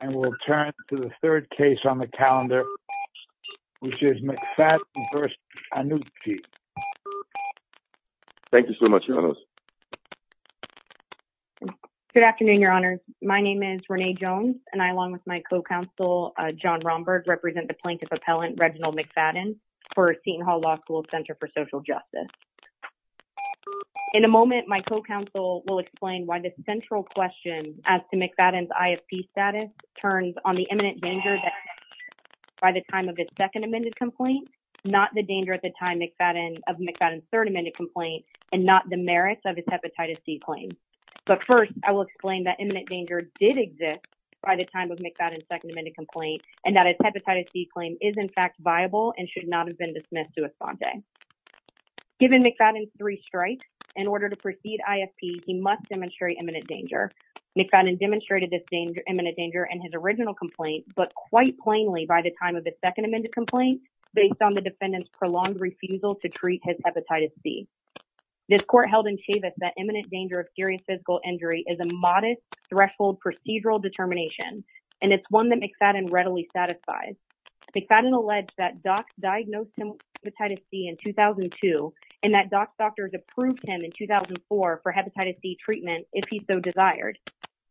and we'll turn to the third case on the calendar which is McFadden v. Annucci. Thank you so much, Your Honors. Good afternoon, Your Honors. My name is Renee Jones and I, along with my co-counsel John Romberg, represent the plaintiff appellant Reginald McFadden for Seton Hall Law School's Center for Social Justice. In a moment, my co-counsel will explain why the central question as to McFadden's ISP status turns on the imminent danger by the time of his second amended complaint, not the danger at the time McFadden of McFadden's third amended complaint, and not the merits of his hepatitis C claim. But first, I will explain that imminent danger did exist by the time of McFadden's second amended complaint and that his hepatitis C claim is, in fact, viable and should not have been dismissed to Esponte. Given McFadden's three strikes, in order to proceed ISP, he must demonstrate imminent danger. McFadden demonstrated this imminent danger in his original complaint, but quite plainly by the time of the second amended complaint, based on the defendant's prolonged refusal to treat his hepatitis C. This court held in Chavis that imminent danger of serious physical injury is a modest threshold procedural determination, and it's one that McFadden readily satisfies. McFadden alleged that docs diagnosed him with hepatitis C in 2002 and that doc doctors approved him in 2004 for hepatitis C treatment if he so desired.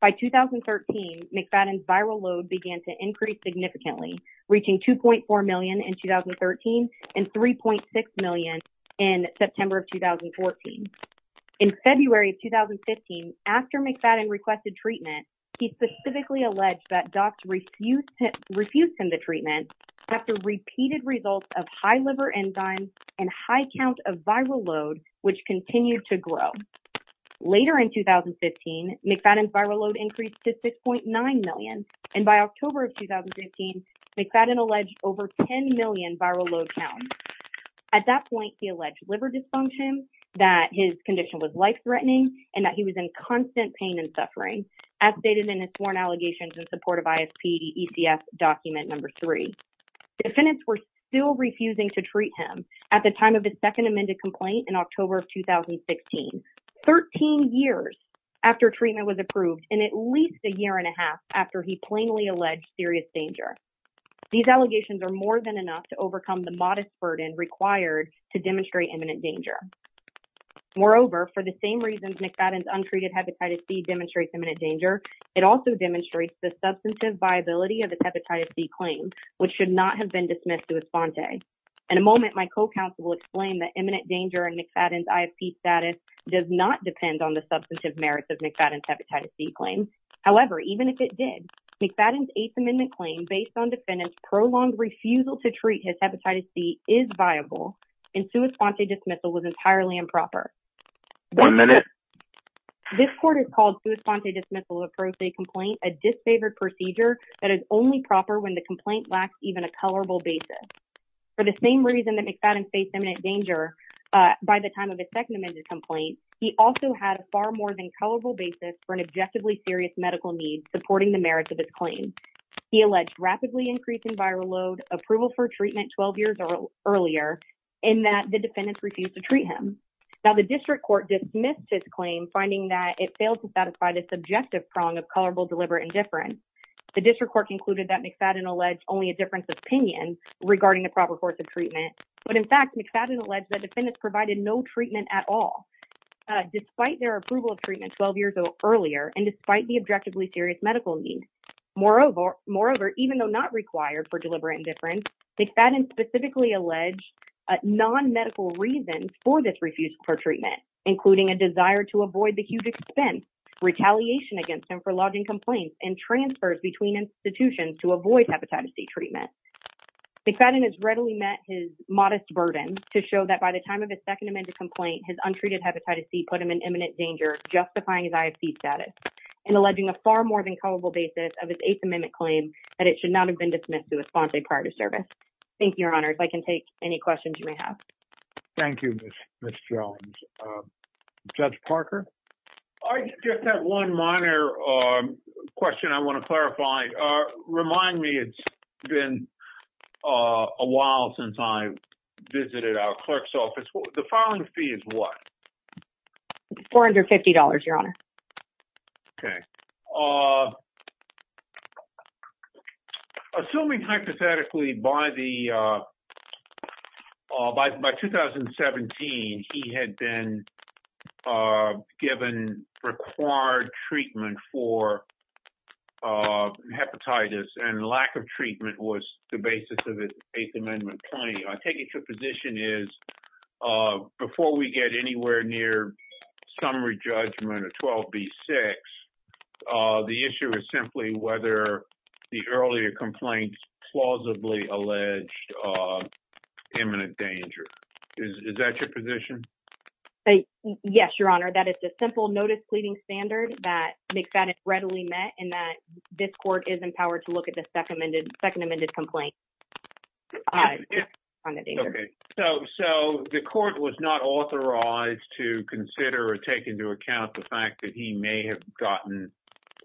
By 2013, McFadden's viral load began to increase significantly, reaching 2.4 million in 2013 and 3.6 million in September of 2014. In February of 2015, after McFadden requested treatment, he specifically alleged that docs refused him the treatment after repeated results of high liver enzymes and high count of viral load, which continued to grow. Later in 2015, McFadden's viral load increased to 6.9 million, and by October of 2015, McFadden alleged over 10 million viral load counts. At that point, he alleged liver dysfunction, that his condition was life-threatening, and that he was in constant pain and suffering, as stated in his sworn allegations in support of ISP, the ECF document number three. Defendants were still refusing to treat him at the time of the second amended complaint in October of 2016, 13 years after treatment was approved and at least a year and a half after he plainly alleged serious danger. These allegations are more than enough to overcome the modest burden required to demonstrate imminent danger. Moreover, for the same reasons McFadden's untreated hepatitis C demonstrates imminent danger, it also demonstrates the substantive viability of his hepatitis C claim, which should not have been dismissed to his fonte. In a moment, my co-counsel will explain that imminent danger in McFadden's ISP status does not depend on the substantive merits of McFadden's hepatitis C claim. However, even if it did, McFadden's eighth amendment claim based on defendants' prolonged refusal to treat his hepatitis C is viable, and sua sponte dismissal was entirely improper. One minute. This court has called sua sponte dismissal of pro se complaint a disfavored procedure that is only proper when the complaint lacks even a colorable basis. For the same reason that McFadden faced imminent danger by the time of his second amended complaint, he also had a far more than colorable basis for an objectively serious medical need supporting the merits of his claim. He alleged rapidly increasing viral load, approval for treatment 12 years earlier, and that the defendants refused to treat him. Now, the district court dismissed his claim, finding that it failed to satisfy the subjective prong of colorable, deliberate, and different. The district court concluded that McFadden alleged only a difference of opinion regarding the proper course of treatment, but in fact, McFadden alleged that defendants provided no treatment at all, despite their approval of treatment 12 years earlier, and despite the objectively serious medical need. Moreover, even though not required for deliberate indifference, McFadden specifically alleged non-medical reasons for this refusal for treatment, including a desire to avoid the huge expense, retaliation against him for lodging complaints, and transfers between institutions to avoid hepatitis C treatment. McFadden has readily met his modest burden to show that by the time of his second amended complaint, his untreated hepatitis C put him in imminent danger, justifying his IFC status, and alleging a far more than colorable basis of his Eighth Amendment claim that it should not have been dismissed to a sponsor prior to service. Thank you, Your Honor. If I can take any questions you may have. Thank you, Ms. Jones. Judge Parker? I just have one minor question I want to clarify. Remind me, it's been a while since I visited our clerk's office. The filing fee is what? $450, Your Honor. Okay. Assuming hypothetically by 2017, he had been given required treatment for hepatitis, and lack of treatment was the basis of his Eighth Amendment claim. I take it your question is whether the earlier complaints plausibly alleged imminent danger. Is that your position? Yes, Your Honor. That is a simple notice pleading standard that McFadden readily met, and that this court is empowered to look at the second amended complaint. Okay. So, the court was not authorized to consider or take into account the fact that he may have gotten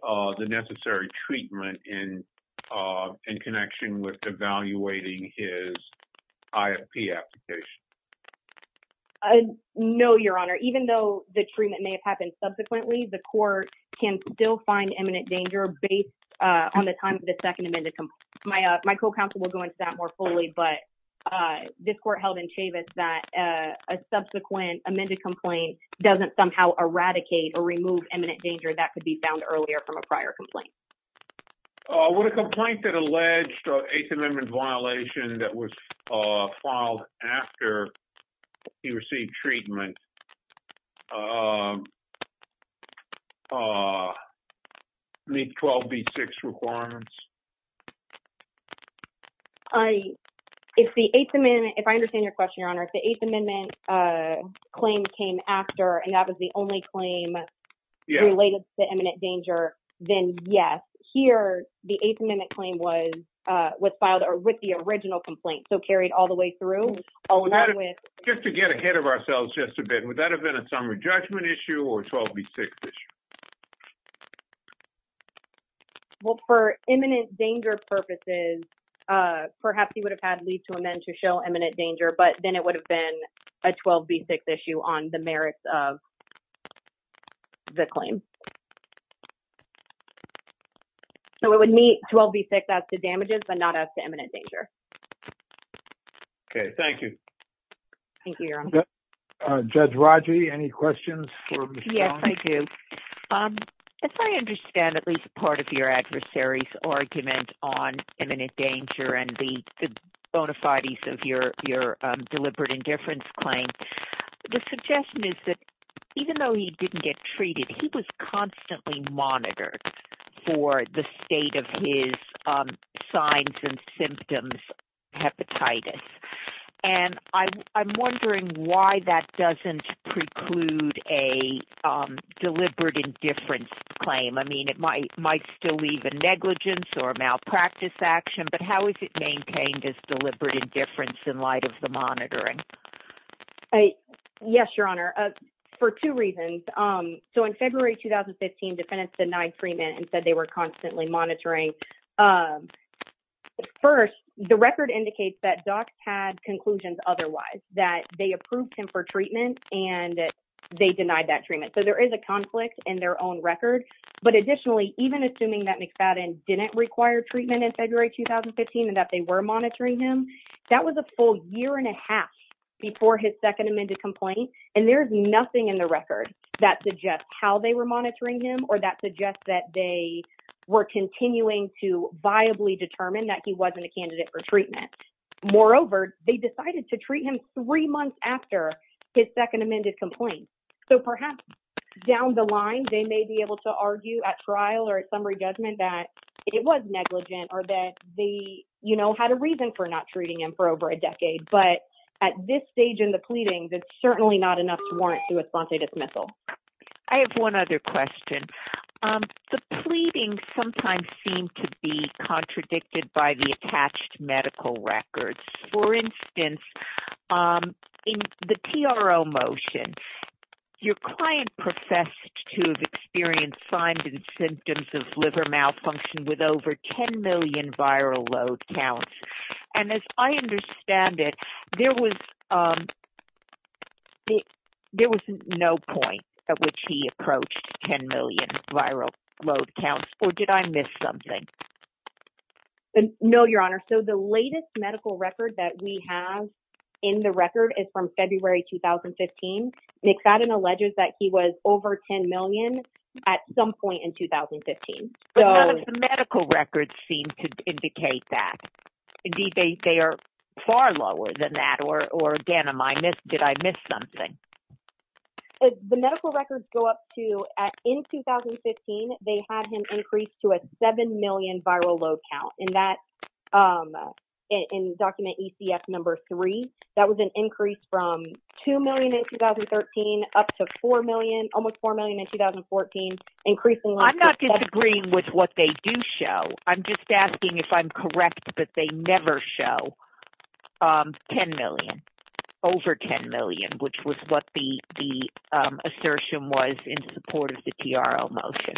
the necessary treatment in connection with evaluating his IFP application. No, Your Honor. Even though the treatment may have happened subsequently, the court can still find imminent danger based on the time of the second amended complaint. My co-counsel will go into that more fully, but this court held in Chavis that a subsequent amended complaint doesn't somehow eradicate or remove imminent danger that could be found earlier from a prior complaint. With a complaint that alleged Eighth Amendment violation that was filed after he received treatment, does that meet 12B6 requirements? If I understand your question, Your Honor, if the Eighth Amendment claim came after and that was the only claim related to imminent danger, then yes. Here, the Eighth Amendment claim was filed with the original complaint, so carried all the way through. Just to get ahead of ourselves just a bit, would that have been a summary judgment issue or a 12B6 issue? Well, for imminent danger purposes, perhaps he would have had leave to amend to show imminent danger, but then it would have been a 12B6 issue on the merits of the claim. So, it would meet 12B6 as to damages, but not as to imminent danger. Okay. Thank you. Thank you, Your Honor. Judge Rodger, any questions for Ms. Jones? Yes, I do. As I understand at least part of your adversary's argument on imminent danger and the bona fides of your deliberate indifference claim, the suggestion is that even though he didn't get treated, he was constantly monitored for the state of his signs and symptoms, hepatitis. And I'm wondering why that doesn't preclude a deliberate indifference claim. I mean, it might still leave a negligence or a malpractice action, but how is it maintained as deliberate indifference in light of the monitoring? Yes, Your Honor. For two reasons. So, in February 2015, defendants denied treatment and said they were constantly monitoring. First, the record indicates that docs had conclusions otherwise, that they approved him for treatment and that they denied that treatment. So, there is a conflict in their own record. But additionally, even assuming that McFadden didn't require treatment in February 2015 and that they were monitoring him, that was a full year and a half before his second amended complaint. And there's nothing in the record that suggests how they were monitoring him or that suggests that they were continuing to viably determine that he wasn't a candidate for treatment. Moreover, they decided to treat him three months after his second amended complaint. So, perhaps down the line, they may be able to argue at trial or at summary judgment that it was negligent or that they, you know, had a reason for not treating him for over a decade. But at this stage in the pleadings, it's certainly not enough to warrant a substantive dismissal. I have one other question. The pleadings sometimes seem to be contradicted by the attached medical records. For instance, in the TRO motion, your client professed to have experienced signs and symptoms of liver malfunction with over 10 million viral load counts. And as I understand it, there was no point at which he approached 10 million viral load counts, or did I miss something? No, your honor. So, the latest medical record that we have in the record is from February 2015. McFadden alleges that he was over 10 million at some point in 2015. But none of the medical records seem to indicate that. Indeed, they are far lower than that, or again, did I miss something? The medical records go up to, in 2015, they had him increased to a 7 million viral load count. That, in document ECF number 3, that was an increase from 2 million in 2013 up to 4 million, almost 4 million in 2014, increasingly. I'm not disagreeing with what they do show. I'm just asking if I'm correct that they never show 10 million, over 10 million, which was what the assertion was in support of the TRO motion.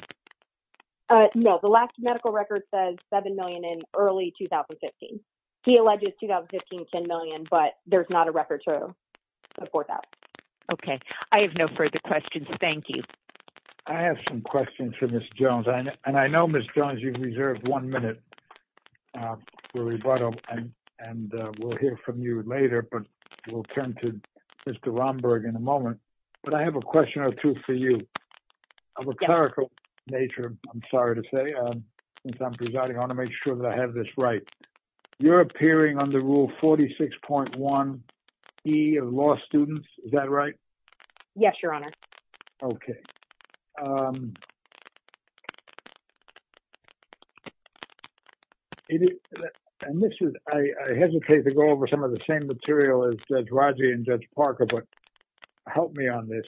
No, the last medical record says 7 million in early 2015. He alleges 2015, 10 million, but there's not a record to support that. Okay. I have no further questions. Thank you. I have some questions for Ms. Jones. And I know, Ms. Jones, you've reserved one minute for rebuttal, and we'll hear from you later. But we'll turn to Mr. Romberg in a moment. But I have a question or two for you. Of a clerical nature, I'm sorry to say, since I'm presiding, I want to make sure that I have this right. You're appearing under Rule 46.1E of law students, is that right? Yes, Your Honor. Okay. I hesitate to go over some of the same material as Judge Rodgey and Judge Parker, but help me on this.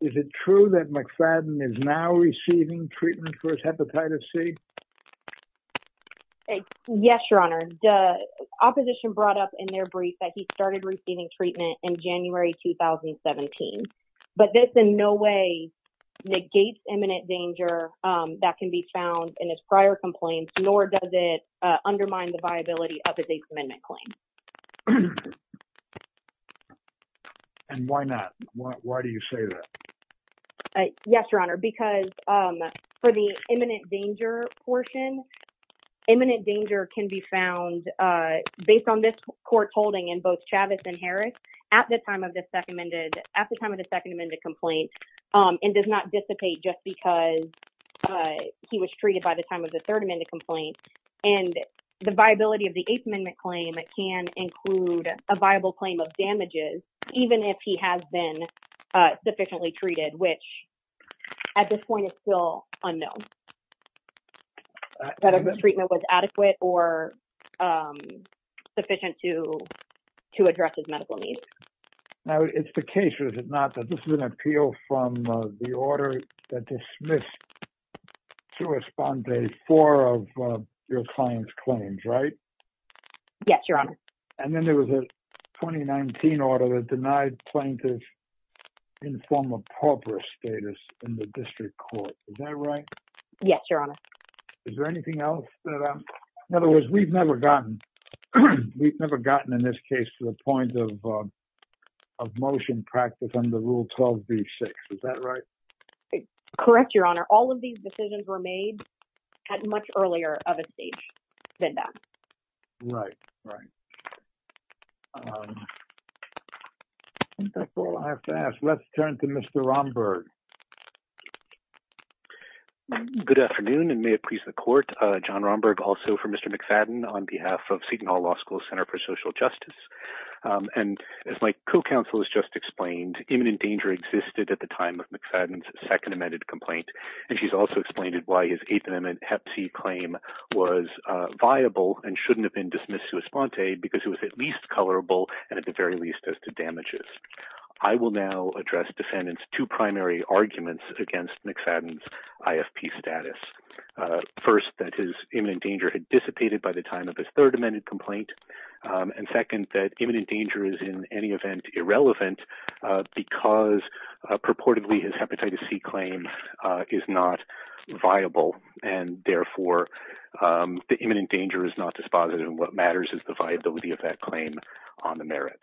Is it true that McFadden is now receiving treatment for his hepatitis C? Yes, Your Honor. The opposition brought up in their brief that he started receiving treatment in January 2017. But this in no way negates imminent danger that can be found in his prior complaints, nor does it undermine the viability of his Eighth Amendment claim. And why not? Why do you say that? Yes, Your Honor. Because for the imminent danger portion, imminent danger can be found based on this court's holding in both Chavez and Harris at the time of the Second Amendment complaint, and does not dissipate just because he was treated by the time of the Third Amendment complaint. And the viability of the Eighth Amendment claim can include a viable claim of damages, even if he has been sufficiently treated, which at this point is still unknown, whether the treatment was adequate or sufficient to address his medical needs. Now, it's the case, is it not, that this is an appeal from the order that dismissed to respond to four of your client's claims, right? Yes, Your Honor. And then there was a 2019 order that denied plaintiffs informal pauper status in the district court. Is that right? Yes, Your Honor. Is there anything else? In other words, we've never gotten, we've never gotten in this case to the point of motion practice under Rule 12b-6. Is that right? Correct, Your Honor. All of these decisions were made at much earlier of a stage than that. Right, right. I think that's all I have to ask. Let's turn to Mr. Romberg. Good afternoon and may it please the court. John Romberg, also for Mr. McFadden on behalf of Seton Hall Law School Center for Social Justice. And as my co-counsel has just explained, imminent existed at the time of McFadden's second amended complaint. And she's also explained why his eighth amendment hep C claim was viable and shouldn't have been dismissed to respond to because it was at least colorable and at the very least as to damages. I will now address defendants two primary arguments against McFadden's IFP status. First, that his imminent danger had dissipated by the time of his third amended complaint. And second, that imminent danger is in any event irrelevant because purportedly his hepatitis C claim is not viable and therefore the imminent danger is not dispositive. And what matters is the viability of that claim on the merits.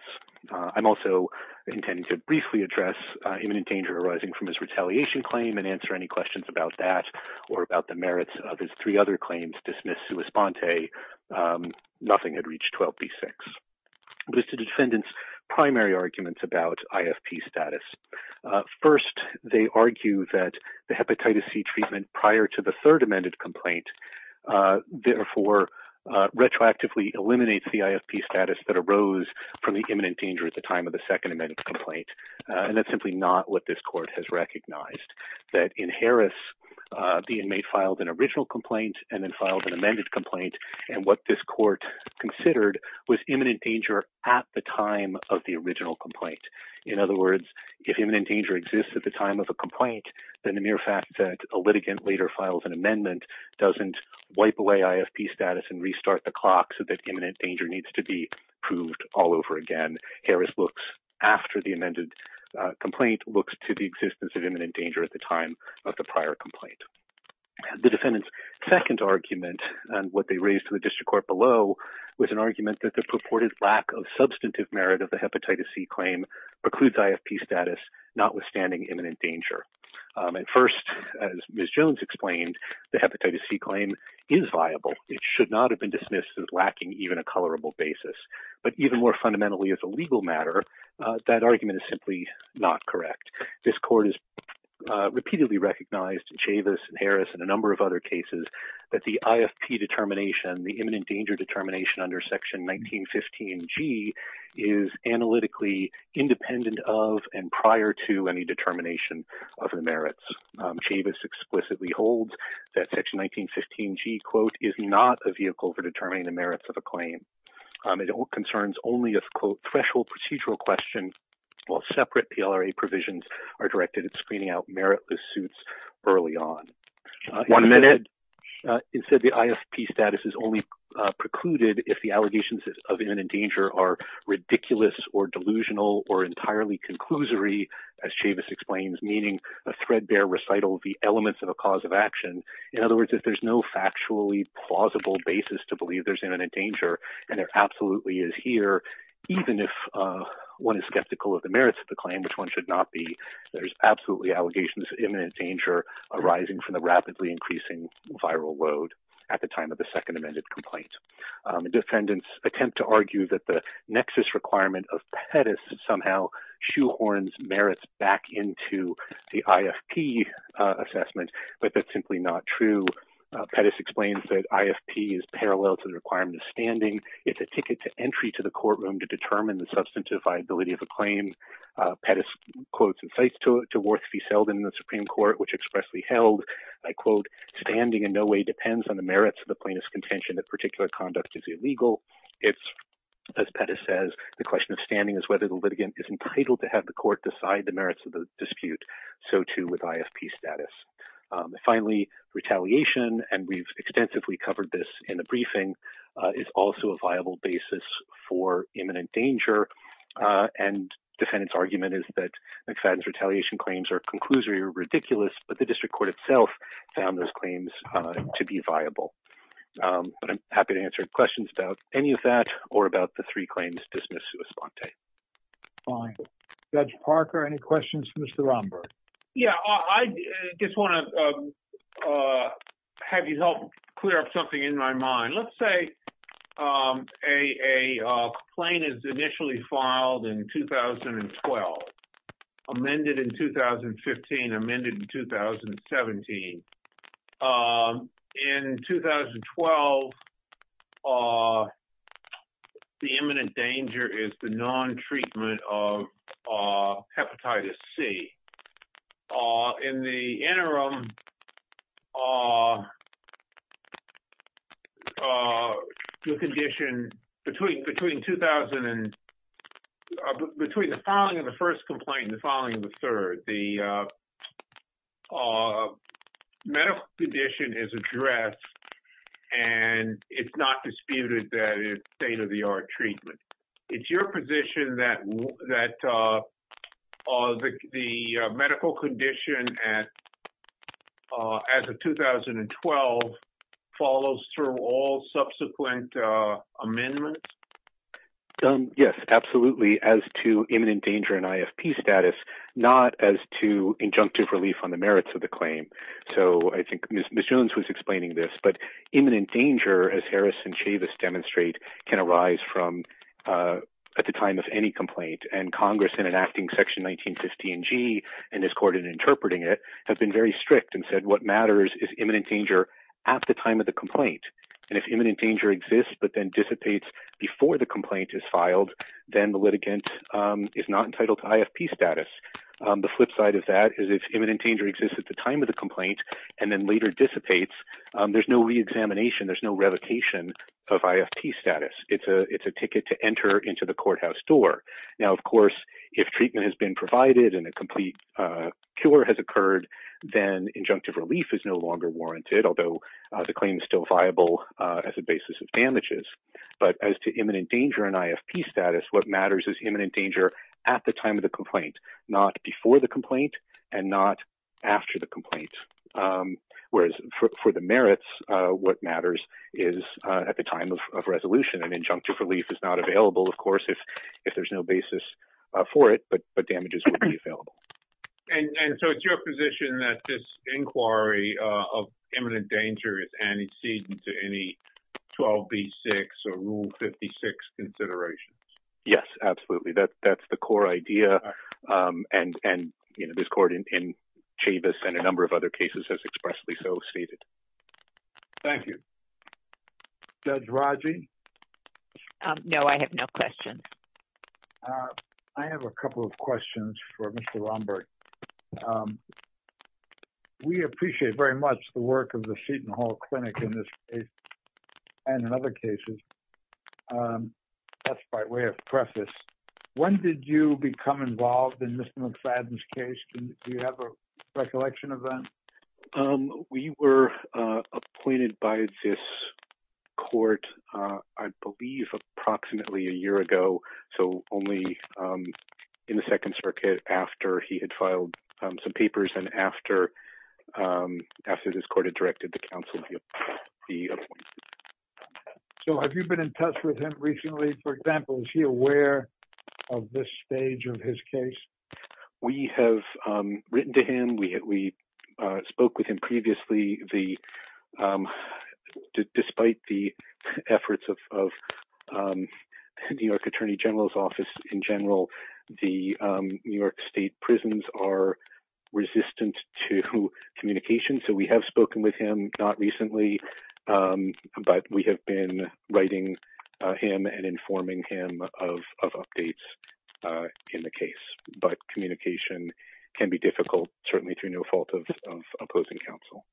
I'm also intending to briefly address imminent danger arising from his retaliation claim and answer any questions about that or about the merits of his three other claims dismissed sua sponte. Nothing had reached 12b-6. But it's the defendant's primary arguments about IFP status. First, they argue that the hepatitis C treatment prior to the third amended complaint, therefore retroactively eliminates the IFP status that arose from the imminent danger at the time of the second amended complaint. And that's simply not what this court has recognized. That in Harris, the inmate filed an original complaint and then filed an amended complaint. And what this court considered was imminent danger at the time of the original complaint. In other words, if imminent danger exists at the time of a complaint, then the mere fact that a litigant later files an amendment doesn't wipe away IFP status and restart the clock so that imminent danger needs to be proved all over again. Harris looks after the amended complaint, looks to the existence of imminent danger at the time of the prior complaint. The defendant's second argument and what they raised to the district court below was an argument that the purported lack of substantive merit of the hepatitis C claim precludes IFP status, notwithstanding imminent danger. And first, as Ms. Jones explained, the hepatitis C claim is viable. It should not have been dismissed as lacking even a colorable basis. But even more fundamentally as a legal matter, that argument is simply not correct. This court has in Harris and a number of other cases that the IFP determination, the imminent danger determination under Section 1915G is analytically independent of and prior to any determination of the merits. Chavis explicitly holds that Section 1915G, quote, is not a vehicle for determining the merits of a claim. It concerns only a threshold procedural question while separate PLRA provisions are directed at screening out meritless suits early on. One minute. Instead, the IFP status is only precluded if the allegations of imminent danger are ridiculous or delusional or entirely conclusory, as Chavis explains, meaning a threadbare recital of the elements of a cause of action. In other words, if there's no factually plausible basis to believe there's imminent danger and there absolutely is here, even if one is skeptical of the merits of the claim, which one should not be, there's absolutely allegations of imminent danger arising from the rapidly increasing viral load at the time of the second amended complaint. Defendants attempt to argue that the nexus requirement of Pettis somehow shoehorns merits back into the IFP assessment, but that's simply not true. Pettis explains that IFP is parallel to the requirement of standing. It's a ticket to entry to the courtroom to determine the substantive viability of a claim. Pettis quotes and cites to it to Worth v. Selden in the Supreme Court, which expressly held, I quote, standing in no way depends on the merits of the plaintiff's contention that particular conduct is illegal. It's, as Pettis says, the question of standing is whether the litigant is entitled to have the court decide the merits of the dispute. So too with IFP status. Finally, retaliation, and we've extensively covered this in the briefing, is also a viable basis for imminent danger. And defendant's argument is that McFadden's ridiculous, but the district court itself found those claims to be viable. But I'm happy to answer questions about any of that or about the three claims dismissed sui sponte. Fine. Judge Parker, any questions for Mr. Romberg? Yeah, I just want to have you help clear up something in my mind. Let's say a complaint is initially filed in 2012, amended in 2015, amended in 2017. In 2012, the imminent danger is the non-treatment of hepatitis C. In the interim, the condition between the filing of the first complaint and the filing of the third, the medical condition is addressed, and it's not disputed that it's state-of-the-art treatment. It's your position that the medical condition at 2012 follows through all subsequent amendments? Yes, absolutely, as to imminent danger and IFP status, not as to injunctive relief on the merits of the claim. So I think Ms. Jones was explaining this, but imminent danger, as Harris and Chavis demonstrate, can arise at the time of any complaint. And Congress, in enacting Section 1950 and G, and this court in interpreting it, have been very strict and said what matters is imminent danger at the time of the complaint. And if imminent danger exists but then dissipates before the complaint is filed, then the litigant is not entitled to IFP status. The flip side of that is if imminent danger exists at the time of the complaint and then later dissipates, there's no re-examination, there's no revocation of IFP status. It's a ticket to enter into the and a complete cure has occurred, then injunctive relief is no longer warranted, although the claim is still viable as a basis of damages. But as to imminent danger and IFP status, what matters is imminent danger at the time of the complaint, not before the complaint and not after the complaint. Whereas for the merits, what matters is at the time of resolution and injunctive relief is not available, of course, if there's no basis for it, but damages will be available. And so it's your position that this inquiry of imminent danger is antecedent to any 12B6 or Rule 56 considerations? Yes, absolutely. That's the core idea. And, you know, this court in Chavis and a number of other cases has expressly so stated. Thank you. Judge Raji? No, I have no questions. I have a couple of questions for Mr. Lombard. We appreciate very much the work of the Seton Hall Clinic in this case and in other cases. That's by way of preface. When did you become involved in Mr. McFadden's case? Do you have a recollection of that? We were appointed by this court, I believe, approximately a year ago. So only in the Second Circuit after he had filed some papers and after this court had directed the counsel to be appointed. So have you been in touch with him recently? For example, is he aware of this stage of his case? We have written to him. We spoke with him previously. Despite the efforts of New York Attorney General's Office in general, the New York State prisons are resistant to communication. So we have spoken with him, not recently, but we have been writing him and communication can be difficult, certainly through no fault of opposing counsel.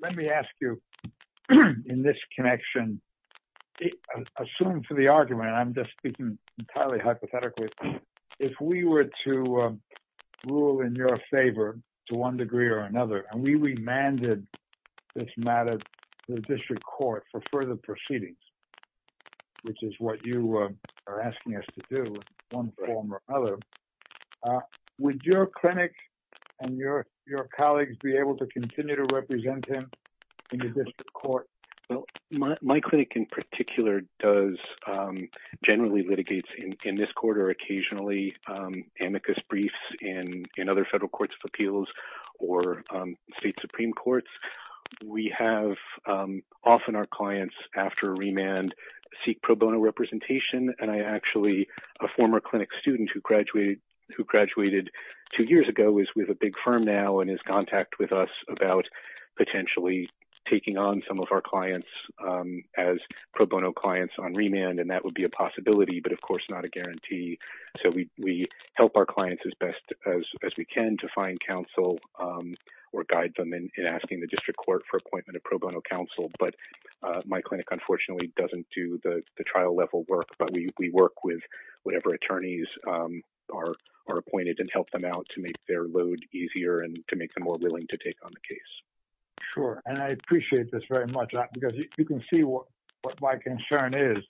Let me ask you, in this connection, assuming for the argument, I'm just speaking entirely hypothetically, if we were to rule in your favor to one degree or another, and we remanded this matter to the district court for further proceedings, which is what you are asking us to do one form or another, would your clinic and your colleagues be able to continue to represent him in the district court? My clinic in particular does generally litigates in this court or occasionally amicus briefs in other federal courts of appeals or state supreme courts. We have often our clients after remand seek pro bono representation, and I actually, a former clinic student who graduated two years ago is with a big firm now and is in contact with us about potentially taking on some of our clients as pro bono clients on remand, and that would be a possibility, but of course not a guarantee. So we help our clients as best as we can to find counsel or guide them in asking the district court for appointment of pro bono counsel, but my clinic unfortunately doesn't do the trial level work, but we work with whatever attorneys are appointed and help them out to make their load easier and to make them more willing to take on the case. Sure, and I appreciate this very much because you can see what my concern is.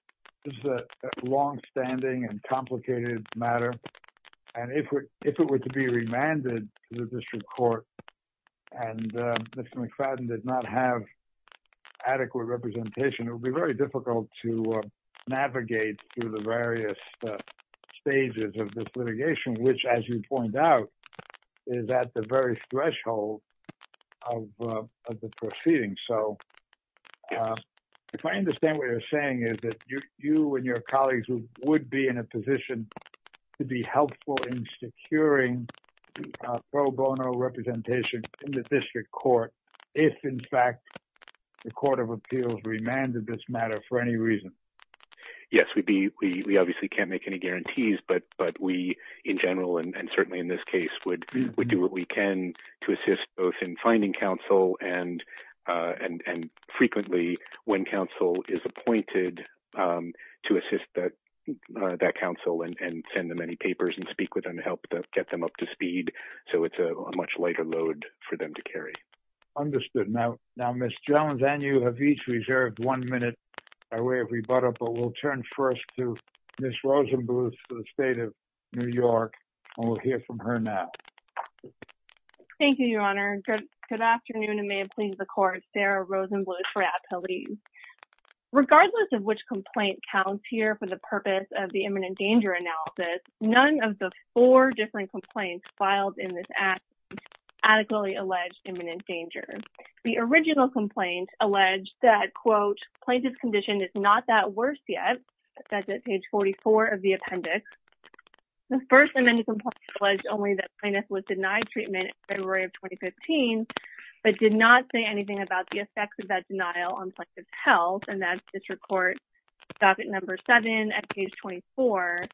This is a long-standing and complicated matter, and if it were to be remanded to the district court and Mr. McFadden did not have adequate representation, it would be very difficult to navigate through the various stages of this litigation, which as you point out is at the very threshold of the proceeding. So if I understand what you're saying is that you and your colleagues would be in a position to be helpful in securing pro bono representation in the district court if in fact the court of appeals remanded this matter for any reason. Yes, we obviously can't make any guarantees, but we in general and certainly in this case would do what we can to assist both in finding counsel and frequently when counsel is appointed to assist that counsel and send them any papers and speak with them to help get them up to speed so it's a much lighter load for them to carry. Understood. Now Ms. Jones and you have each reserved one minute by way of rebuttal, but we'll turn first to Ms. Rosenbluth for the state of New York. Thank you, Your Honor. Good afternoon and may it please the court, Sarah Rosenbluth for Appellees. Regardless of which complaint counts here for the purpose of the imminent danger analysis, none of the four different complaints filed in this act adequately alleged imminent danger. The original complaint alleged that quote plaintiff's condition is not that worse yet, that's at page 44 of the appendix. The first amended complaint alleged only that plaintiff was denied treatment in February of 2015 but did not say anything about the effects of that denial on plaintiff's health and that's district court docket number seven at page 24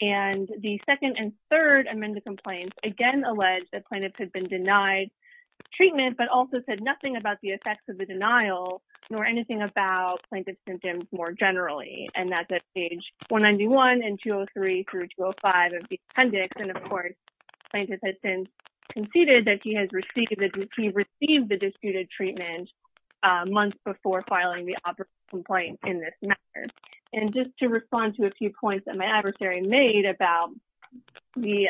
and the second and third amended complaints again allege that plaintiff had been denied treatment but also said nothing about the effects of the denial nor anything about plaintiff's symptoms more generally and that's at page 191 and 203 through 205 of the appendix and of course plaintiff has since conceded that he has received that he received the disputed treatment months before filing the operative complaint in this matter. And just to respond to a few points that my adversary made about the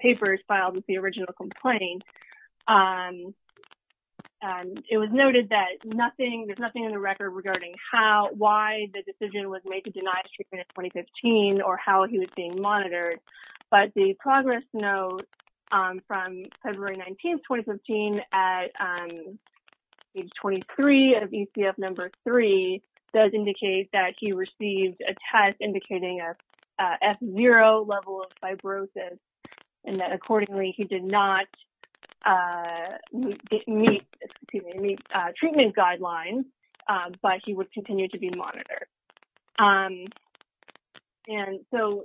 papers filed with the original complaint, it was noted that there's nothing in the record regarding how why the decision was made to deny treatment in 2015 or how he was being monitored but the progress note from February 19, 2015 at page 23 of ECF number three does indicate that he received a test indicating a F0 level of fibrosis and that accordingly he did not meet treatment guidelines but he would continue to be monitored. And so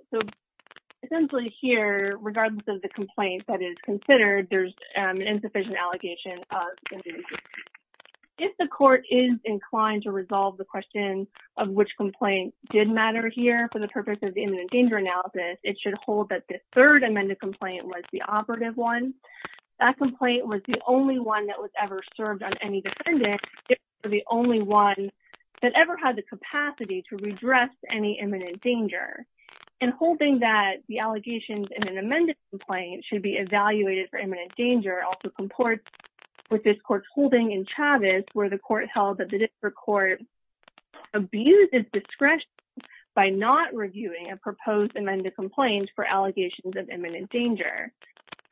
essentially here regardless of the complaint that is considered there's an insufficient allegation. If the court is inclined to resolve the question of which complaint did matter here for the purpose of the imminent danger analysis it should hold that the third amended complaint was the operative one. That complaint was the only one that was ever served on any defendant or the only one that ever had the capacity to redress any imminent danger and holding that the allegations in an amended complaint should be evaluated for imminent danger also comport with this court's holding in Chavez where the court held that the district court abuses discretion by not reviewing a proposed amended complaint for allegations of imminent danger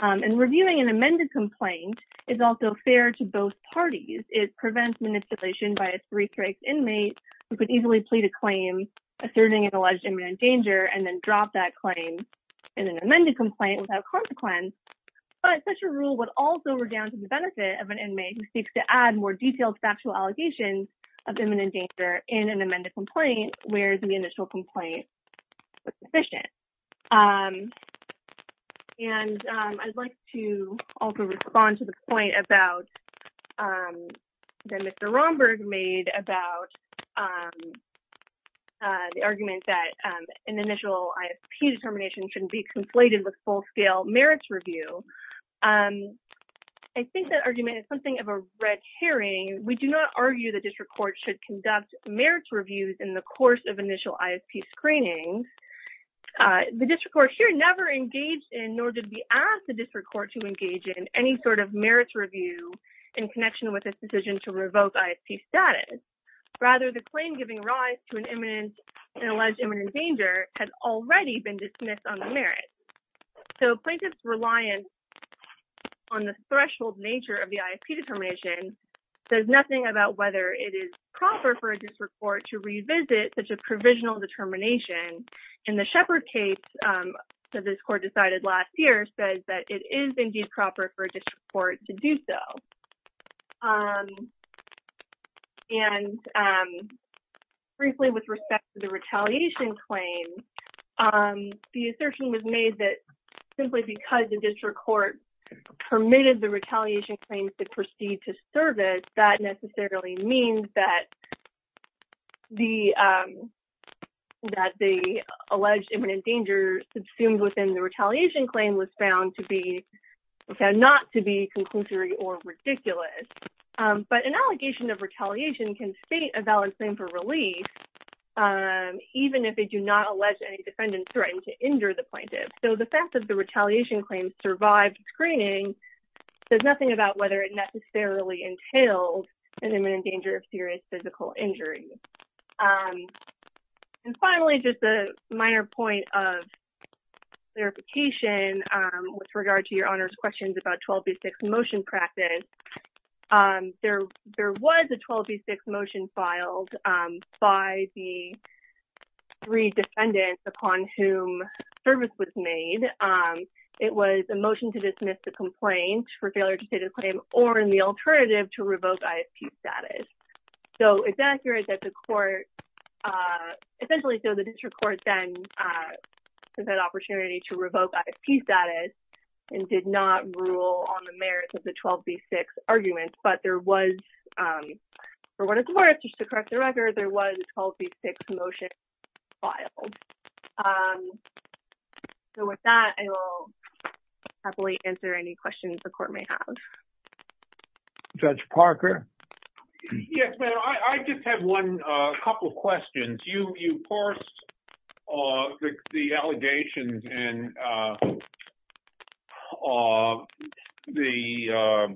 and reviewing an amended complaint is also fair to both parties. It prevents manipulation by a three strikes inmate who could easily plead a claim asserting an alleged imminent danger and then drop that claim in an amended complaint without consequence but such a rule would also redound to the benefit of an inmate who seeks to add more detailed factual allegations of imminent danger in an amended complaint whereas the initial complaint was sufficient. And I'd like to also respond to the point about that Mr. Romberg made about the argument that an initial ISP determination shouldn't be conflated with full-scale merits review. I think that argument is something of a red herring. We do not argue the district court should conduct merits reviews in the course of initial ISP screening. The district court here never engaged in nor did we ask the district court to engage in any sort of merits review in connection with this decision to revoke ISP status. Rather the claim giving rise to an imminent and alleged imminent danger has already been dismissed on the merits. So plaintiff's reliance on the threshold nature of the ISP determination says nothing about whether it is proper for a district court to revisit such a provisional determination and the Shepard case that this court decided last year says that it is indeed proper for a district court to do so. And briefly with respect to the retaliation claim, the assertion was made that simply because the district court permitted the retaliation claim to proceed to service that necessarily means that the alleged imminent danger subsumed within the retaliation claim was found to be conclusory or ridiculous. But an allegation of retaliation can state a valid claim for relief even if they do not allege any defendant's threat to injure the plaintiff. So the fact that the retaliation claim survived screening says nothing about whether it necessarily entails an imminent danger of serious physical injury. And finally just a minor point of clarification with regard to your Honor's questions about 12B6 motion practice. There was a 12B6 motion filed by the three defendants upon whom service was made. It was a motion to dismiss the complaint for failure to state a claim or in the alternative to revoke ISP status. So it's accurate that the court essentially so the district court then took that opportunity to revoke ISP status and did not rule on the merits of the 12B6 argument. But there was, for what it's worth, just to correct the record, there was a 12B6 motion filed. So with that I will happily answer any questions the court may have. Judge Parker? Yes, ma'am. I just have one couple of questions. You forced the allegations and the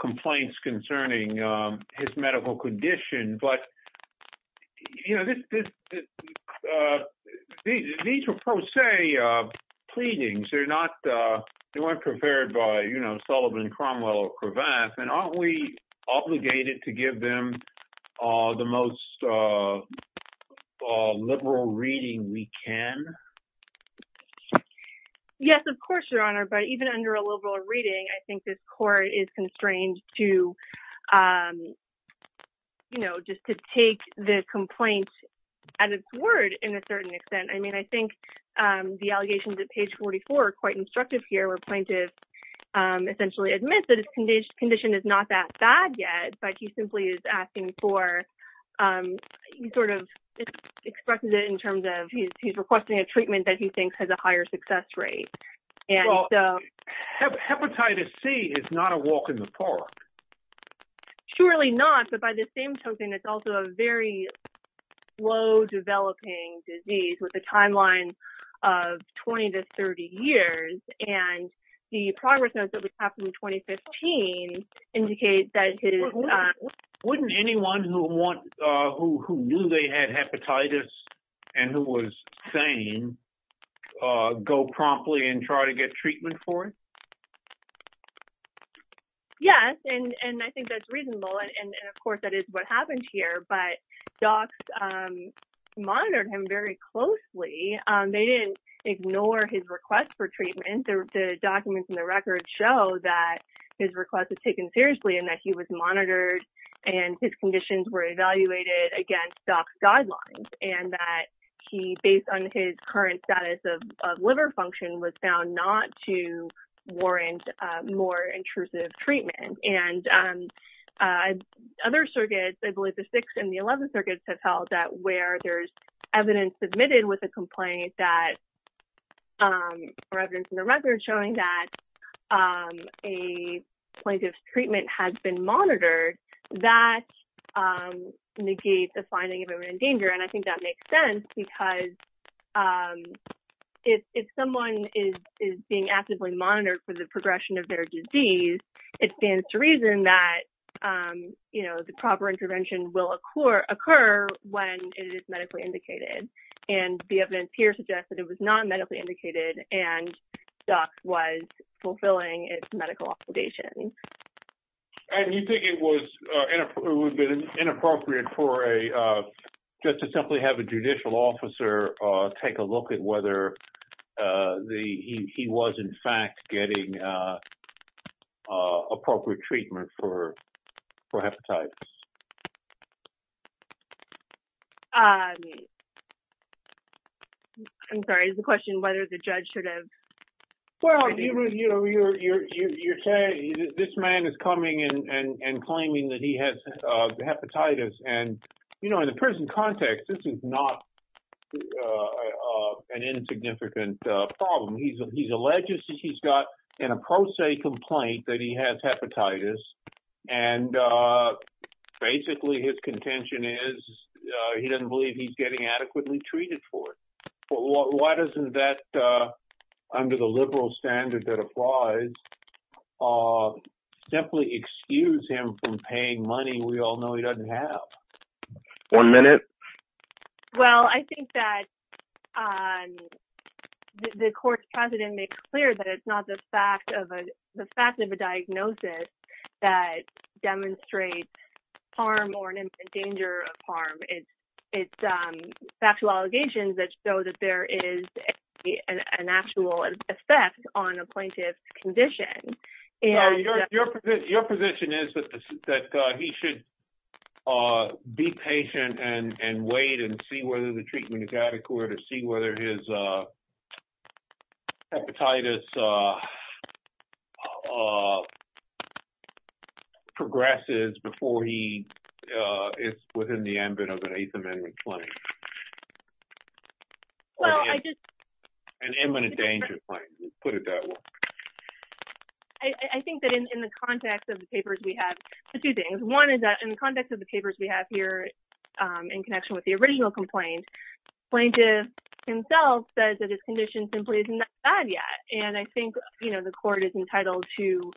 complaints concerning his medical condition. But, you know, these were pro se pleadings. They're not, they weren't prepared by, you know, Sullivan, Cromwell or Cravath. And aren't we obligated to give them the most liberal reading we can? Yes, of course, Your Honor. But even under a liberal reading I think this court is constrained to, you know, just to take the complaint at its word in a certain extent. I mean, I think the allegations at page 44 are quite instructive here where plaintiff essentially admits that his condition is not that bad yet, but he simply is asking for, he sort of expresses it in terms of he's requesting a treatment that he thinks has a higher success rate. Hepatitis C is not a walk in the park. Surely not. But by the same token, it's also a very low developing disease with a timeline of 20 to 30 years. And the progress notes that we have from 2015 indicate that it is. Wouldn't anyone who knew they had hepatitis and who was sane go promptly and try to get treatment for it? Yes, and I think that's reasonable. And, of course, that is what happened here. But docs monitored him very closely. They didn't ignore his request for treatment. The documents in the record show that his request was taken seriously and that he was monitored and his conditions were evaluated against doc's guidelines and that he, based on his current status of liver function, was found not to warrant more intrusive treatment. And other circuits, I believe the 6th and the 11th circuits have held that where there's evidence submitted with a complaint that, or evidence in the record showing that a plaintiff's treatment has been monitored, that negates the finding of him in danger. And I think that makes sense because if someone is being actively monitored for the progression of their disease, it stands to reason that the proper intervention will occur when it is medically indicated. And the evidence here suggests that it was not medically indicated and doc was simply have a judicial officer take a look at whether he was, in fact, getting appropriate treatment for hepatitis. I'm sorry, is the question whether the judge should have? Well, you're saying this man is coming and claiming that he has hepatitis and, you know, in the prison context, this is not an insignificant problem. He's alleged that he's got an a pro se complaint that he has hepatitis and basically his contention is he doesn't believe he's getting adequately treated for it. Why doesn't that, under the liberal standard that one minute? Well, I think that the court's president makes clear that it's not the fact of a, the fact of a diagnosis that demonstrates harm or an infant danger of harm. It's, it's factual allegations that show that there is an actual effect on a plaintiff's condition. And your position is that that he should be patient and wait and see whether the treatment is adequate or see whether his hepatitis progresses before he is within the ambit of an eighth amendment claim. Well, I just. An imminent danger claim, put it that way. I think that in the context of the papers, we have two things. One is that in the context of the papers we have here in connection with the original complaint, plaintiff himself says that his condition simply isn't that bad yet. And I think, you know, the court is entitled to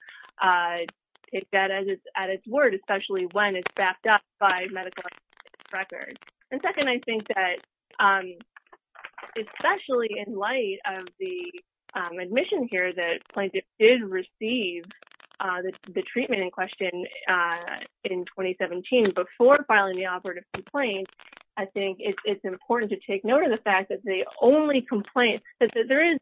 take that as it's at its word, especially when it's backed up by medical records. And second, I think that especially in light of the admission here that plaintiff did receive the treatment in question in 2017 before filing the operative complaint, I think it's important to take note of the fact that the only complaint that there is,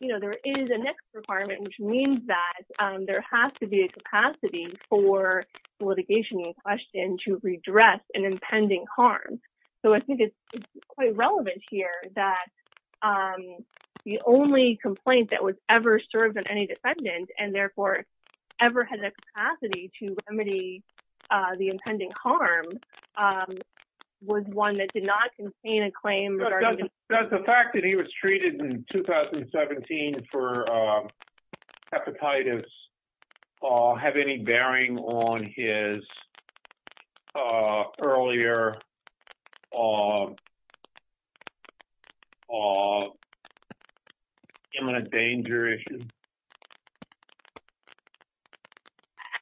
you know, there is a next requirement, which means that there has to be a capacity for litigation in question to redress an impending harm. So I think it's quite relevant here that the only complaint that was ever served on any defendant and therefore ever had the capacity to remedy the impending harm was one that did not contain a claim. Does the fact that he was treated in 2017 for hepatitis have any bearing on his earlier imminent danger issue?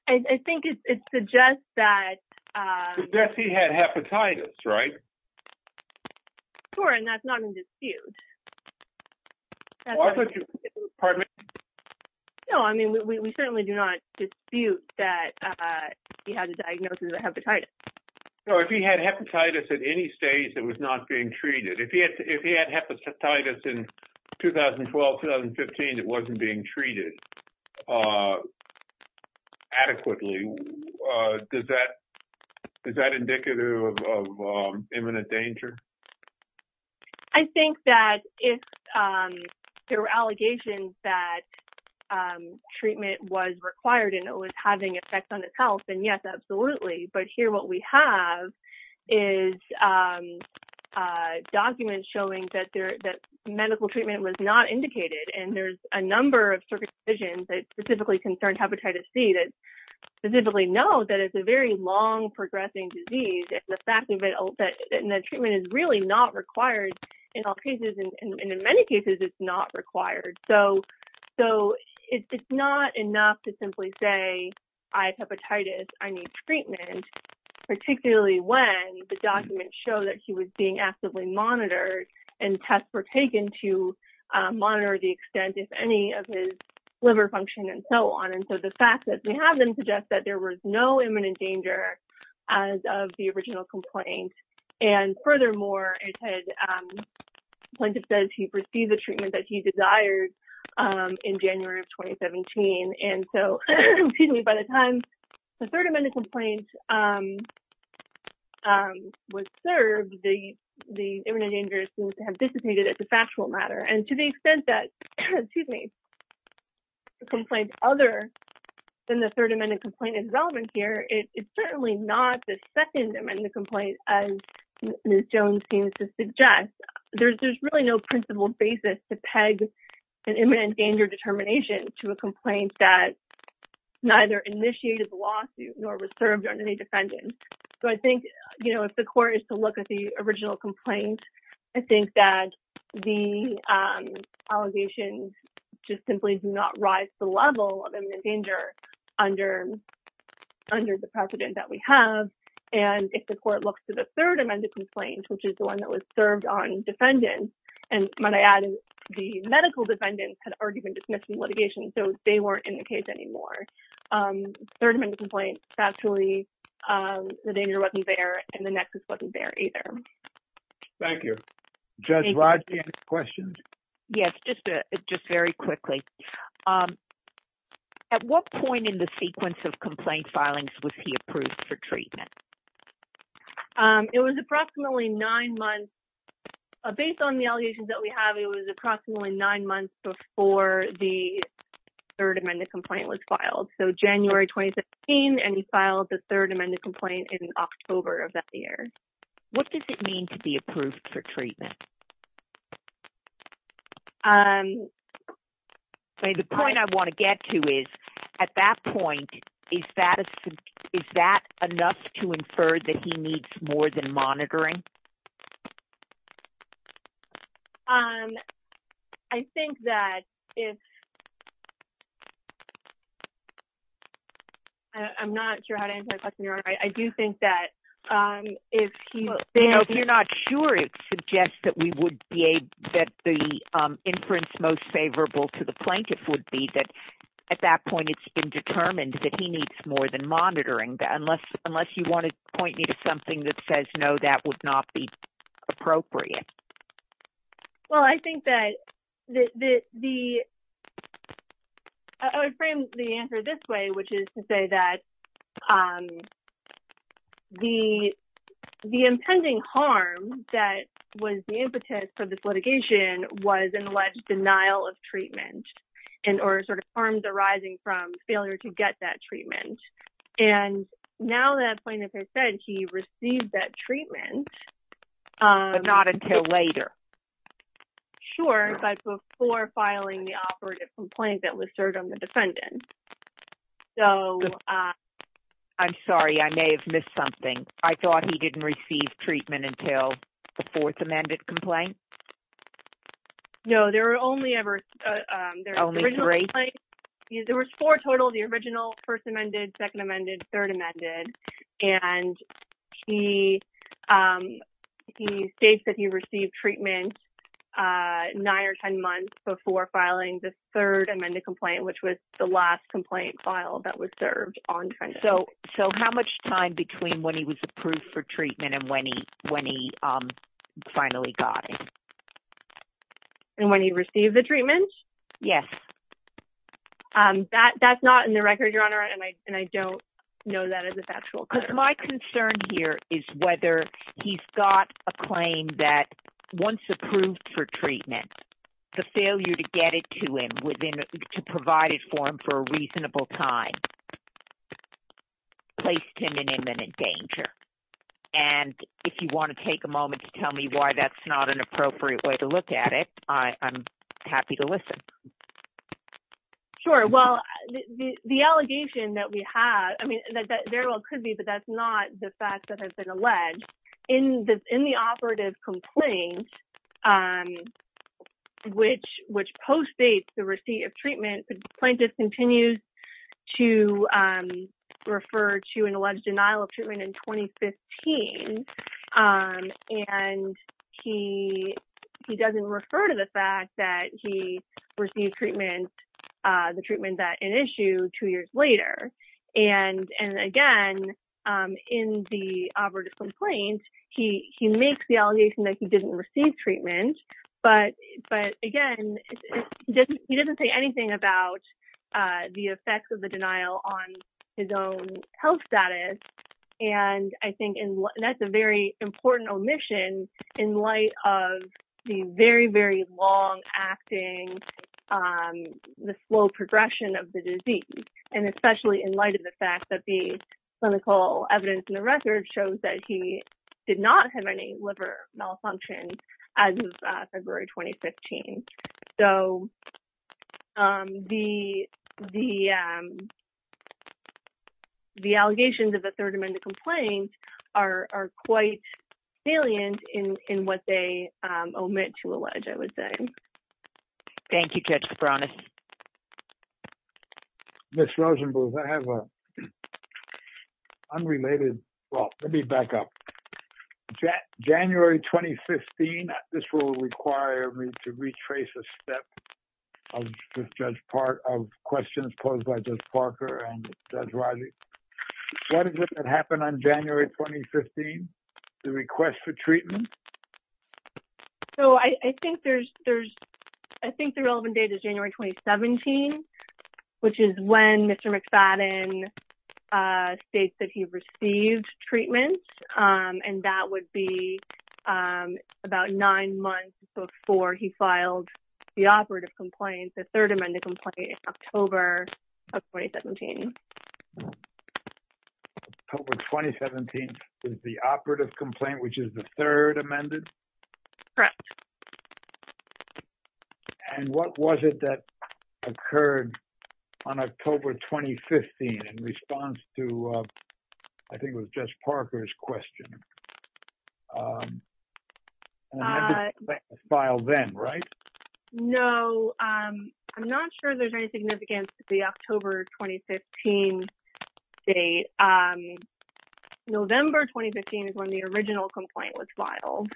I think it suggests that... Suggests he had hepatitis, right? Sure, and that's not in dispute. Pardon me? No, I mean, we certainly do not dispute that he had a diagnosis of hepatitis. So if he had hepatitis at any stage that was not being treated, if he had hepatitis in 2012-2015 that wasn't being treated adequately, is that indicative of imminent danger? I think that if there were allegations that treatment was required and it was having effects on his health, then yes, absolutely. But here what we have is documents showing that medical treatment was not indicated, and there's a number of circuit decisions that specifically concern hepatitis C that specifically know that it's a very long-progressing disease, and the fact that the treatment is really not required in all cases, and in many cases, it's not required. So it's not enough to simply say, I have hepatitis, I need treatment, particularly when the documents show that he was being actively monitored and tests were taken to monitor the extent if any of his liver function and so on. And so the fact that we have them suggests that there was no imminent danger as of the original complaint, and furthermore, the plaintiff says he received the treatment that he desired in January of 2017, and so by the time the third amended complaint was served, the imminent danger seems to have disappeared as a factual matter. And to the extent that the complaint other than the third amended complaint is relevant here, it's certainly not the second amended complaint as Ms. Jones seems to suggest. There's really no principled basis to peg an imminent danger determination to a complaint that neither initiated the lawsuit nor was served on any defendant. So I think if the court is to look at the original complaint, I think that the allegations just simply do not rise to the level of imminent danger under the precedent that we have, and if the court looks to the third amended complaint, which is the one that was served on defendants, and might I add the medical defendants had already been dismissed from litigation, so they weren't in the case anymore. Third amended complaint, factually, the danger wasn't there and the nexus wasn't there either. Thank you. Judge Rodney, any questions? Yes, just very quickly. At what point in the sequence of complaint filings was he approved for treatment? It was approximately nine months. Based on the allegations that we have, it was approximately nine months before the third amended complaint was filed. So January 2017, and he filed the third amended complaint in October of that year. What does it mean to be The point I want to get to is, at that point, is that enough to infer that he needs more than monitoring? I think that if I'm not sure how to answer that question. I do think that if you're not sure, it would be that at that point, it's been determined that he needs more than monitoring, unless you want to point me to something that says no, that would not be appropriate. Well, I think that the I would frame the answer this way, which is to say that the impending harm that was the impetus for this litigation was an alleged denial of treatment. And or sort of harms arising from failure to get that treatment. And now that point, as I said, he received that treatment. But not until later. Sure, but before filing the operative complaint that was served on the defendant. So I'm sorry, I may have missed something. I thought he didn't receive treatment until the fourth amended complaint. No, there were only ever three. There was four total, the original first amended, second amended, third amended. And he states that he received treatment nine or 10 months before filing the third amended complaint, which was the last complaint file that was served on. So So how much time between when he was approved for treatment and when he when he finally got it? And when he received the treatment? Yes. That that's not in the record, Your Honor. And I don't know that as a factual because my concern here is whether he's got a claim that once approved for treatment, the failure to get it to him within to provide it for him for a reasonable time. Placed him in imminent danger. And if you want to take a moment to tell me why that's not an appropriate way to look at it, I'm happy to listen. Sure. Well, the allegation that we have, I mean, that there could be but that's not the fact that has been alleged in the in the operative complaint, which which post dates the receipt of treatment plaintiff continues to refer to an alleged denial of treatment in 2015. And he he doesn't refer to the fact that he received treatment, the treatment that an issue two years later, and and again, in the operative complaint, he he makes the allegation that he doesn't say anything about the effects of the denial on his own health status. And I think that's a very important omission in light of the very, very long acting the slow progression of the disease, and especially in light of the fact that the clinical evidence in the record shows that he did not have any liver malfunctions as of February 2015. So the the the allegations of a third amendment complaint are quite salient in what they omit to allege, I would say. Thank you catch the promise. Miss Rosenbluth, I have a unrelated, well, let me back up. January 2015, this will require me to retrace a step of Judge Parker of questions posed by Judge Parker and Judge Riley. What is it that happened on January 2015? The request for treatment? So I think there's there's, I think the relevant date is January 2017, which is when Mr. McFadden states that he received treatment. And that would be about nine months before he filed the operative complaint, the third amended complaint in October of 2017. October 2017 is the operative complaint, which is the third amended? Correct. And what was it that occurred on October 2015, in response to, I think it was Judge Parker's question? Filed then, right? No, I'm not sure there's any significance to the October 2015 date. November 2015 is when the original complaint was filed.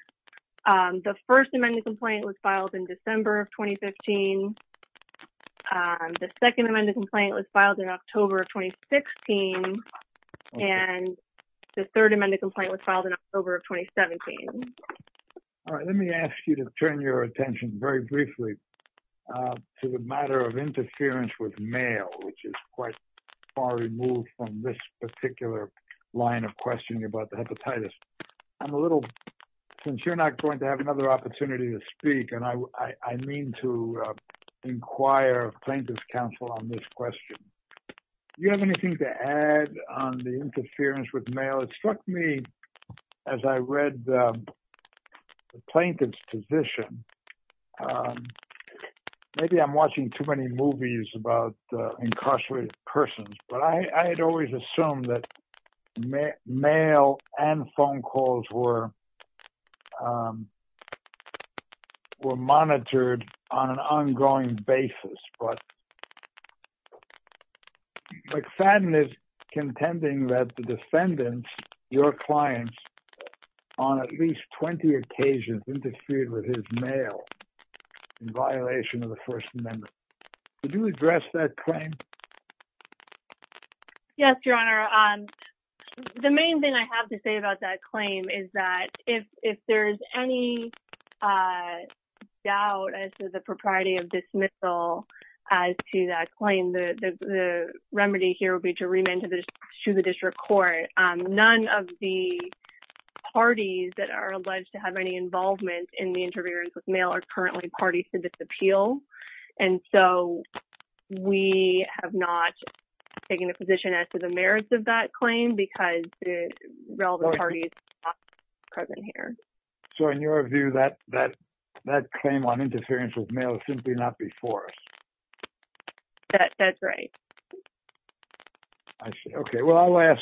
The first amendment complaint was filed in December of 2015. The second amendment complaint was filed in October of 2016. And the third amendment complaint was filed in October of 2017. All right, let me ask you to turn your attention very briefly to the matter of interference with mail, which is quite far removed from this particular line of questioning about the hepatitis. I'm a little, since you're not going to have another opportunity to speak, and I mean to inquire plaintiff's counsel on this question. Do you have anything to add on interference with mail? It struck me as I read the plaintiff's position, maybe I'm watching too many movies about incarcerated persons, but I had always assumed that mail and phone calls were monitored on an ongoing basis. But Fadden is contending that the defendants, your clients, on at least 20 occasions interfered with his mail in violation of the first amendment. Could you address that claim? Yes, Your Honor. The main thing I have to say about that claim is that if there's any doubt as to the propriety of dismissal as to that claim, the remedy here would be to remand to the district court. None of the parties that are alleged to have any involvement in the interference with mail are currently parties to this appeal. And so we have not taken a position as to the that claim on interference with mail is simply not before us. That's right. I see. Okay. Well, I'll ask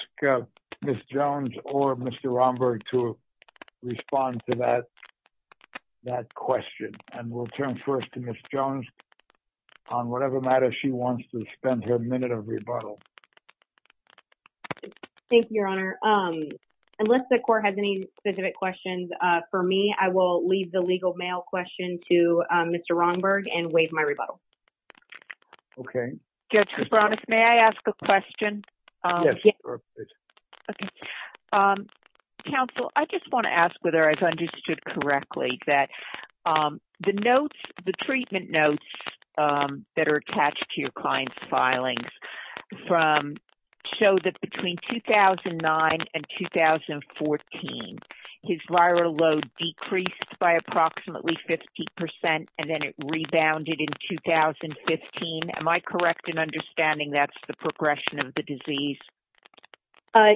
Ms. Jones or Mr. Romberg to respond to that question, and we'll turn first to Ms. Jones on whatever matter she wants to spend her minute of rebuttal. Thank you, Your Honor. Unless the court has any specific questions for me, I will leave the legal mail question to Mr. Romberg and waive my rebuttal. Okay. Judge Koubranos, may I ask a question? Yes, of course. Okay. Counsel, I just want to ask whether I've understood correctly that the treatment notes that are attached to your client's filings show that between 2009 and 2014, his viral load decreased by approximately 50 percent, and then it rebounded in 2015. Am I correct in understanding that's the progression of the disease?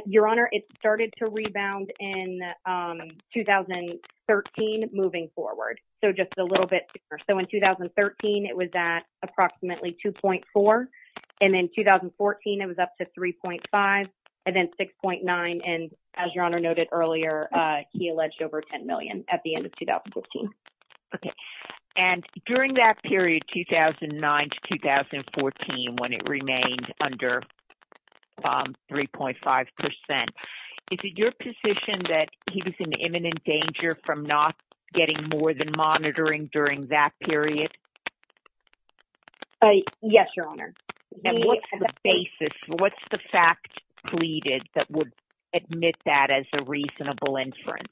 Your Honor, it started to rebound in 2013, moving forward, so just a little bit. So, in 2013, it was at approximately 2.4, and in 2014, it was up to 3.5, and then 6.9, and as Your Honor noted earlier, he alleged over 10 million at the end of 2015. Okay. And during that period, 2009 to 2014, when it remained under 3.5 percent, is it your position that he was in imminent danger from not getting more than monitoring during that period? Yes, Your Honor. What's the fact pleaded that would admit that as a reasonable inference?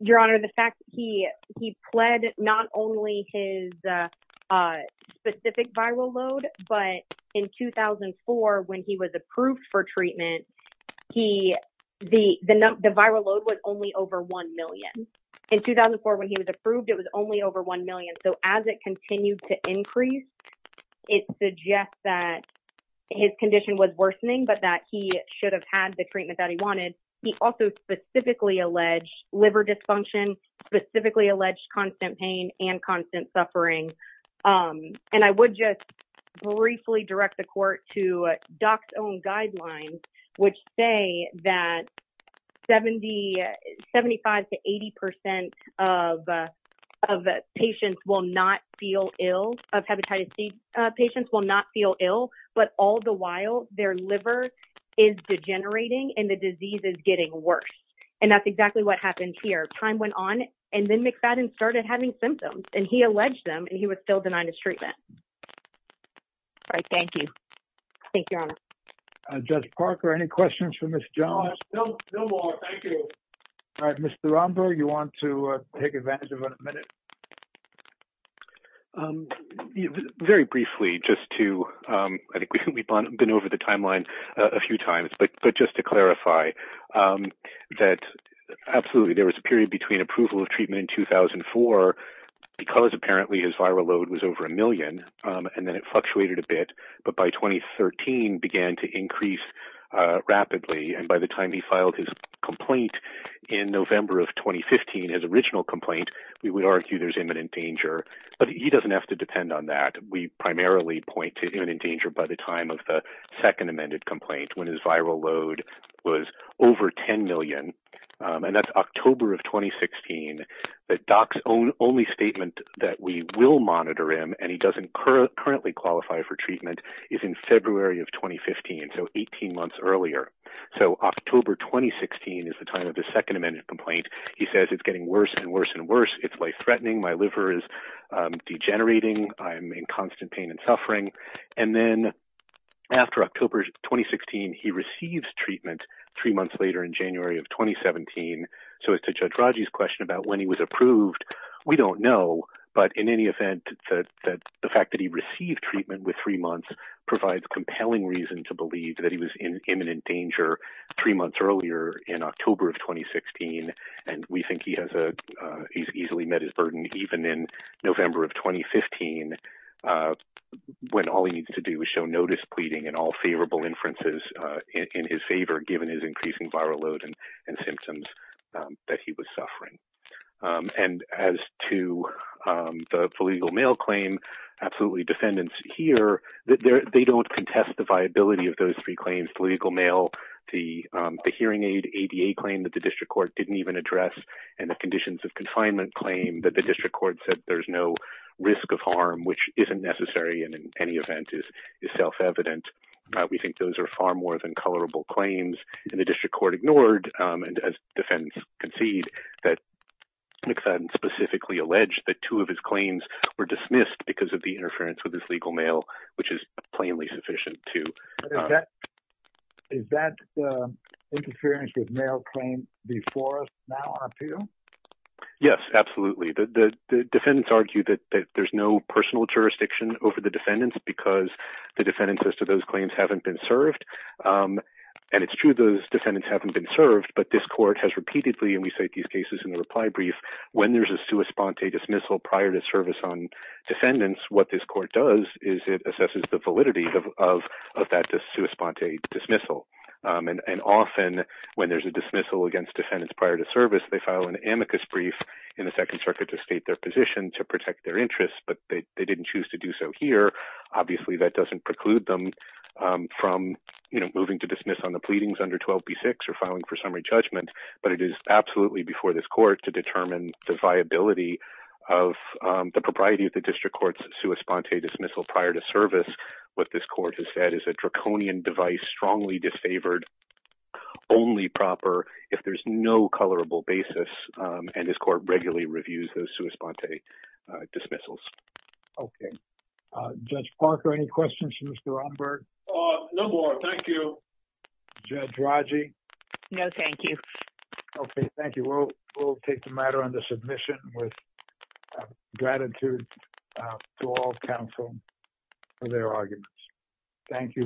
Your Honor, the fact he pled not only his specific viral load, but in 2004, when he was approved for treatment, the viral load was only over 1 million. In 2004, when he was approved, it was only over 1 million. So, as it continued to increase, it suggests that his condition was worsening, but that he should have had the treatment that he wanted. He also specifically alleged liver dysfunction, specifically alleged constant pain and constant suffering, and I would just briefly direct the court to Doc's own guidelines, which say that 75 to 80 percent of patients will not feel ill, of hepatitis C patients will not feel ill, but all the while, their liver is degenerating, and the disease is getting worse, and that's exactly what happened here. Time went on, and then McFadden started having symptoms, and he alleged them, and he was still denied his treatment. All right, thank you. Thank you, Your Honor. Judge Parker, any questions for Ms. Jones? No, no more. Thank you. All right, Mr. Rombo, you want to take advantage of a minute? Very briefly, just to, I think we've been over the timeline a few times, but just to clarify that, absolutely, there was a period between approval of treatment in 2004, because apparently his viral load was over a million, and then it fluctuated a bit, but by 2013 began to increase rapidly, and by the time he filed his complaint in November of 2015, his original complaint, we would argue there's imminent danger, but he doesn't have to depend on that. We primarily point to imminent danger by the time of the second amended complaint, when his viral load was over 10 million, and that's October of 2016. The doc's only statement that we will monitor him, and he doesn't currently qualify for treatment, is in February of 2015, so 18 months earlier, so October 2016 is the time of the second amended complaint. He says it's getting worse and worse and worse. It's life-threatening. My liver is degenerating. I'm in constant pain and suffering, and then after October 2016, he receives treatment three months later in January of 2017, so as to Judge Raji's question about when he was approved, we don't know, but in any event, the fact that he received treatment with three months provides compelling reason to believe that he was in imminent danger three months earlier in October of 2016, and we think he's easily met his burden, even in November of 2015, when all he needs to do is show notice pleading and all favorable inferences in his favor, given his increasing viral load and symptoms that he was suffering. As to the political mail claim, absolutely defendants here, they don't contest the viability of those three claims, political mail, the hearing aid ADA claim that the district court didn't even address, and the conditions of confinement claim that the district court said there's no risk of harm, which isn't necessary, and in any event is self-evident. We think those are far more than colorable claims, and the district court ignored, and as defendants concede, that McFadden specifically alleged that two of his claims were dismissed because of the interference with his legal mail, which is plainly sufficient too. Is that interference with mail claim before us now? Yes, absolutely. The defendants argue that there's no personal jurisdiction over the defendants because the defendants as to those claims haven't been served, and it's true those defendants haven't been served, but this court has repeatedly, and we cite these cases in the reply brief, when there's a sua sponte dismissal prior to service on defendants, what this court does is it assesses the validity of that sua sponte dismissal, and often when there's a dismissal against defendants prior to service, they file an amicus brief in the second circuit to state their position to protect their interests, but they didn't choose to do so here. Obviously, that doesn't preclude them from moving to dismiss on the pleadings under 12b6 or filing for summary judgment, but it is absolutely before this court to determine the viability of the propriety of sua sponte dismissal prior to service. What this court has said is a draconian device, strongly disfavored, only proper if there's no colorable basis, and this court regularly reviews those sua sponte dismissals. Okay. Judge Parker, any questions for Mr. Umberg? No more. Thank you. Judge Raji? No, thank you. Okay, thank you. We'll take the matter under submission with gratitude to all counsel for their arguments. Thank you.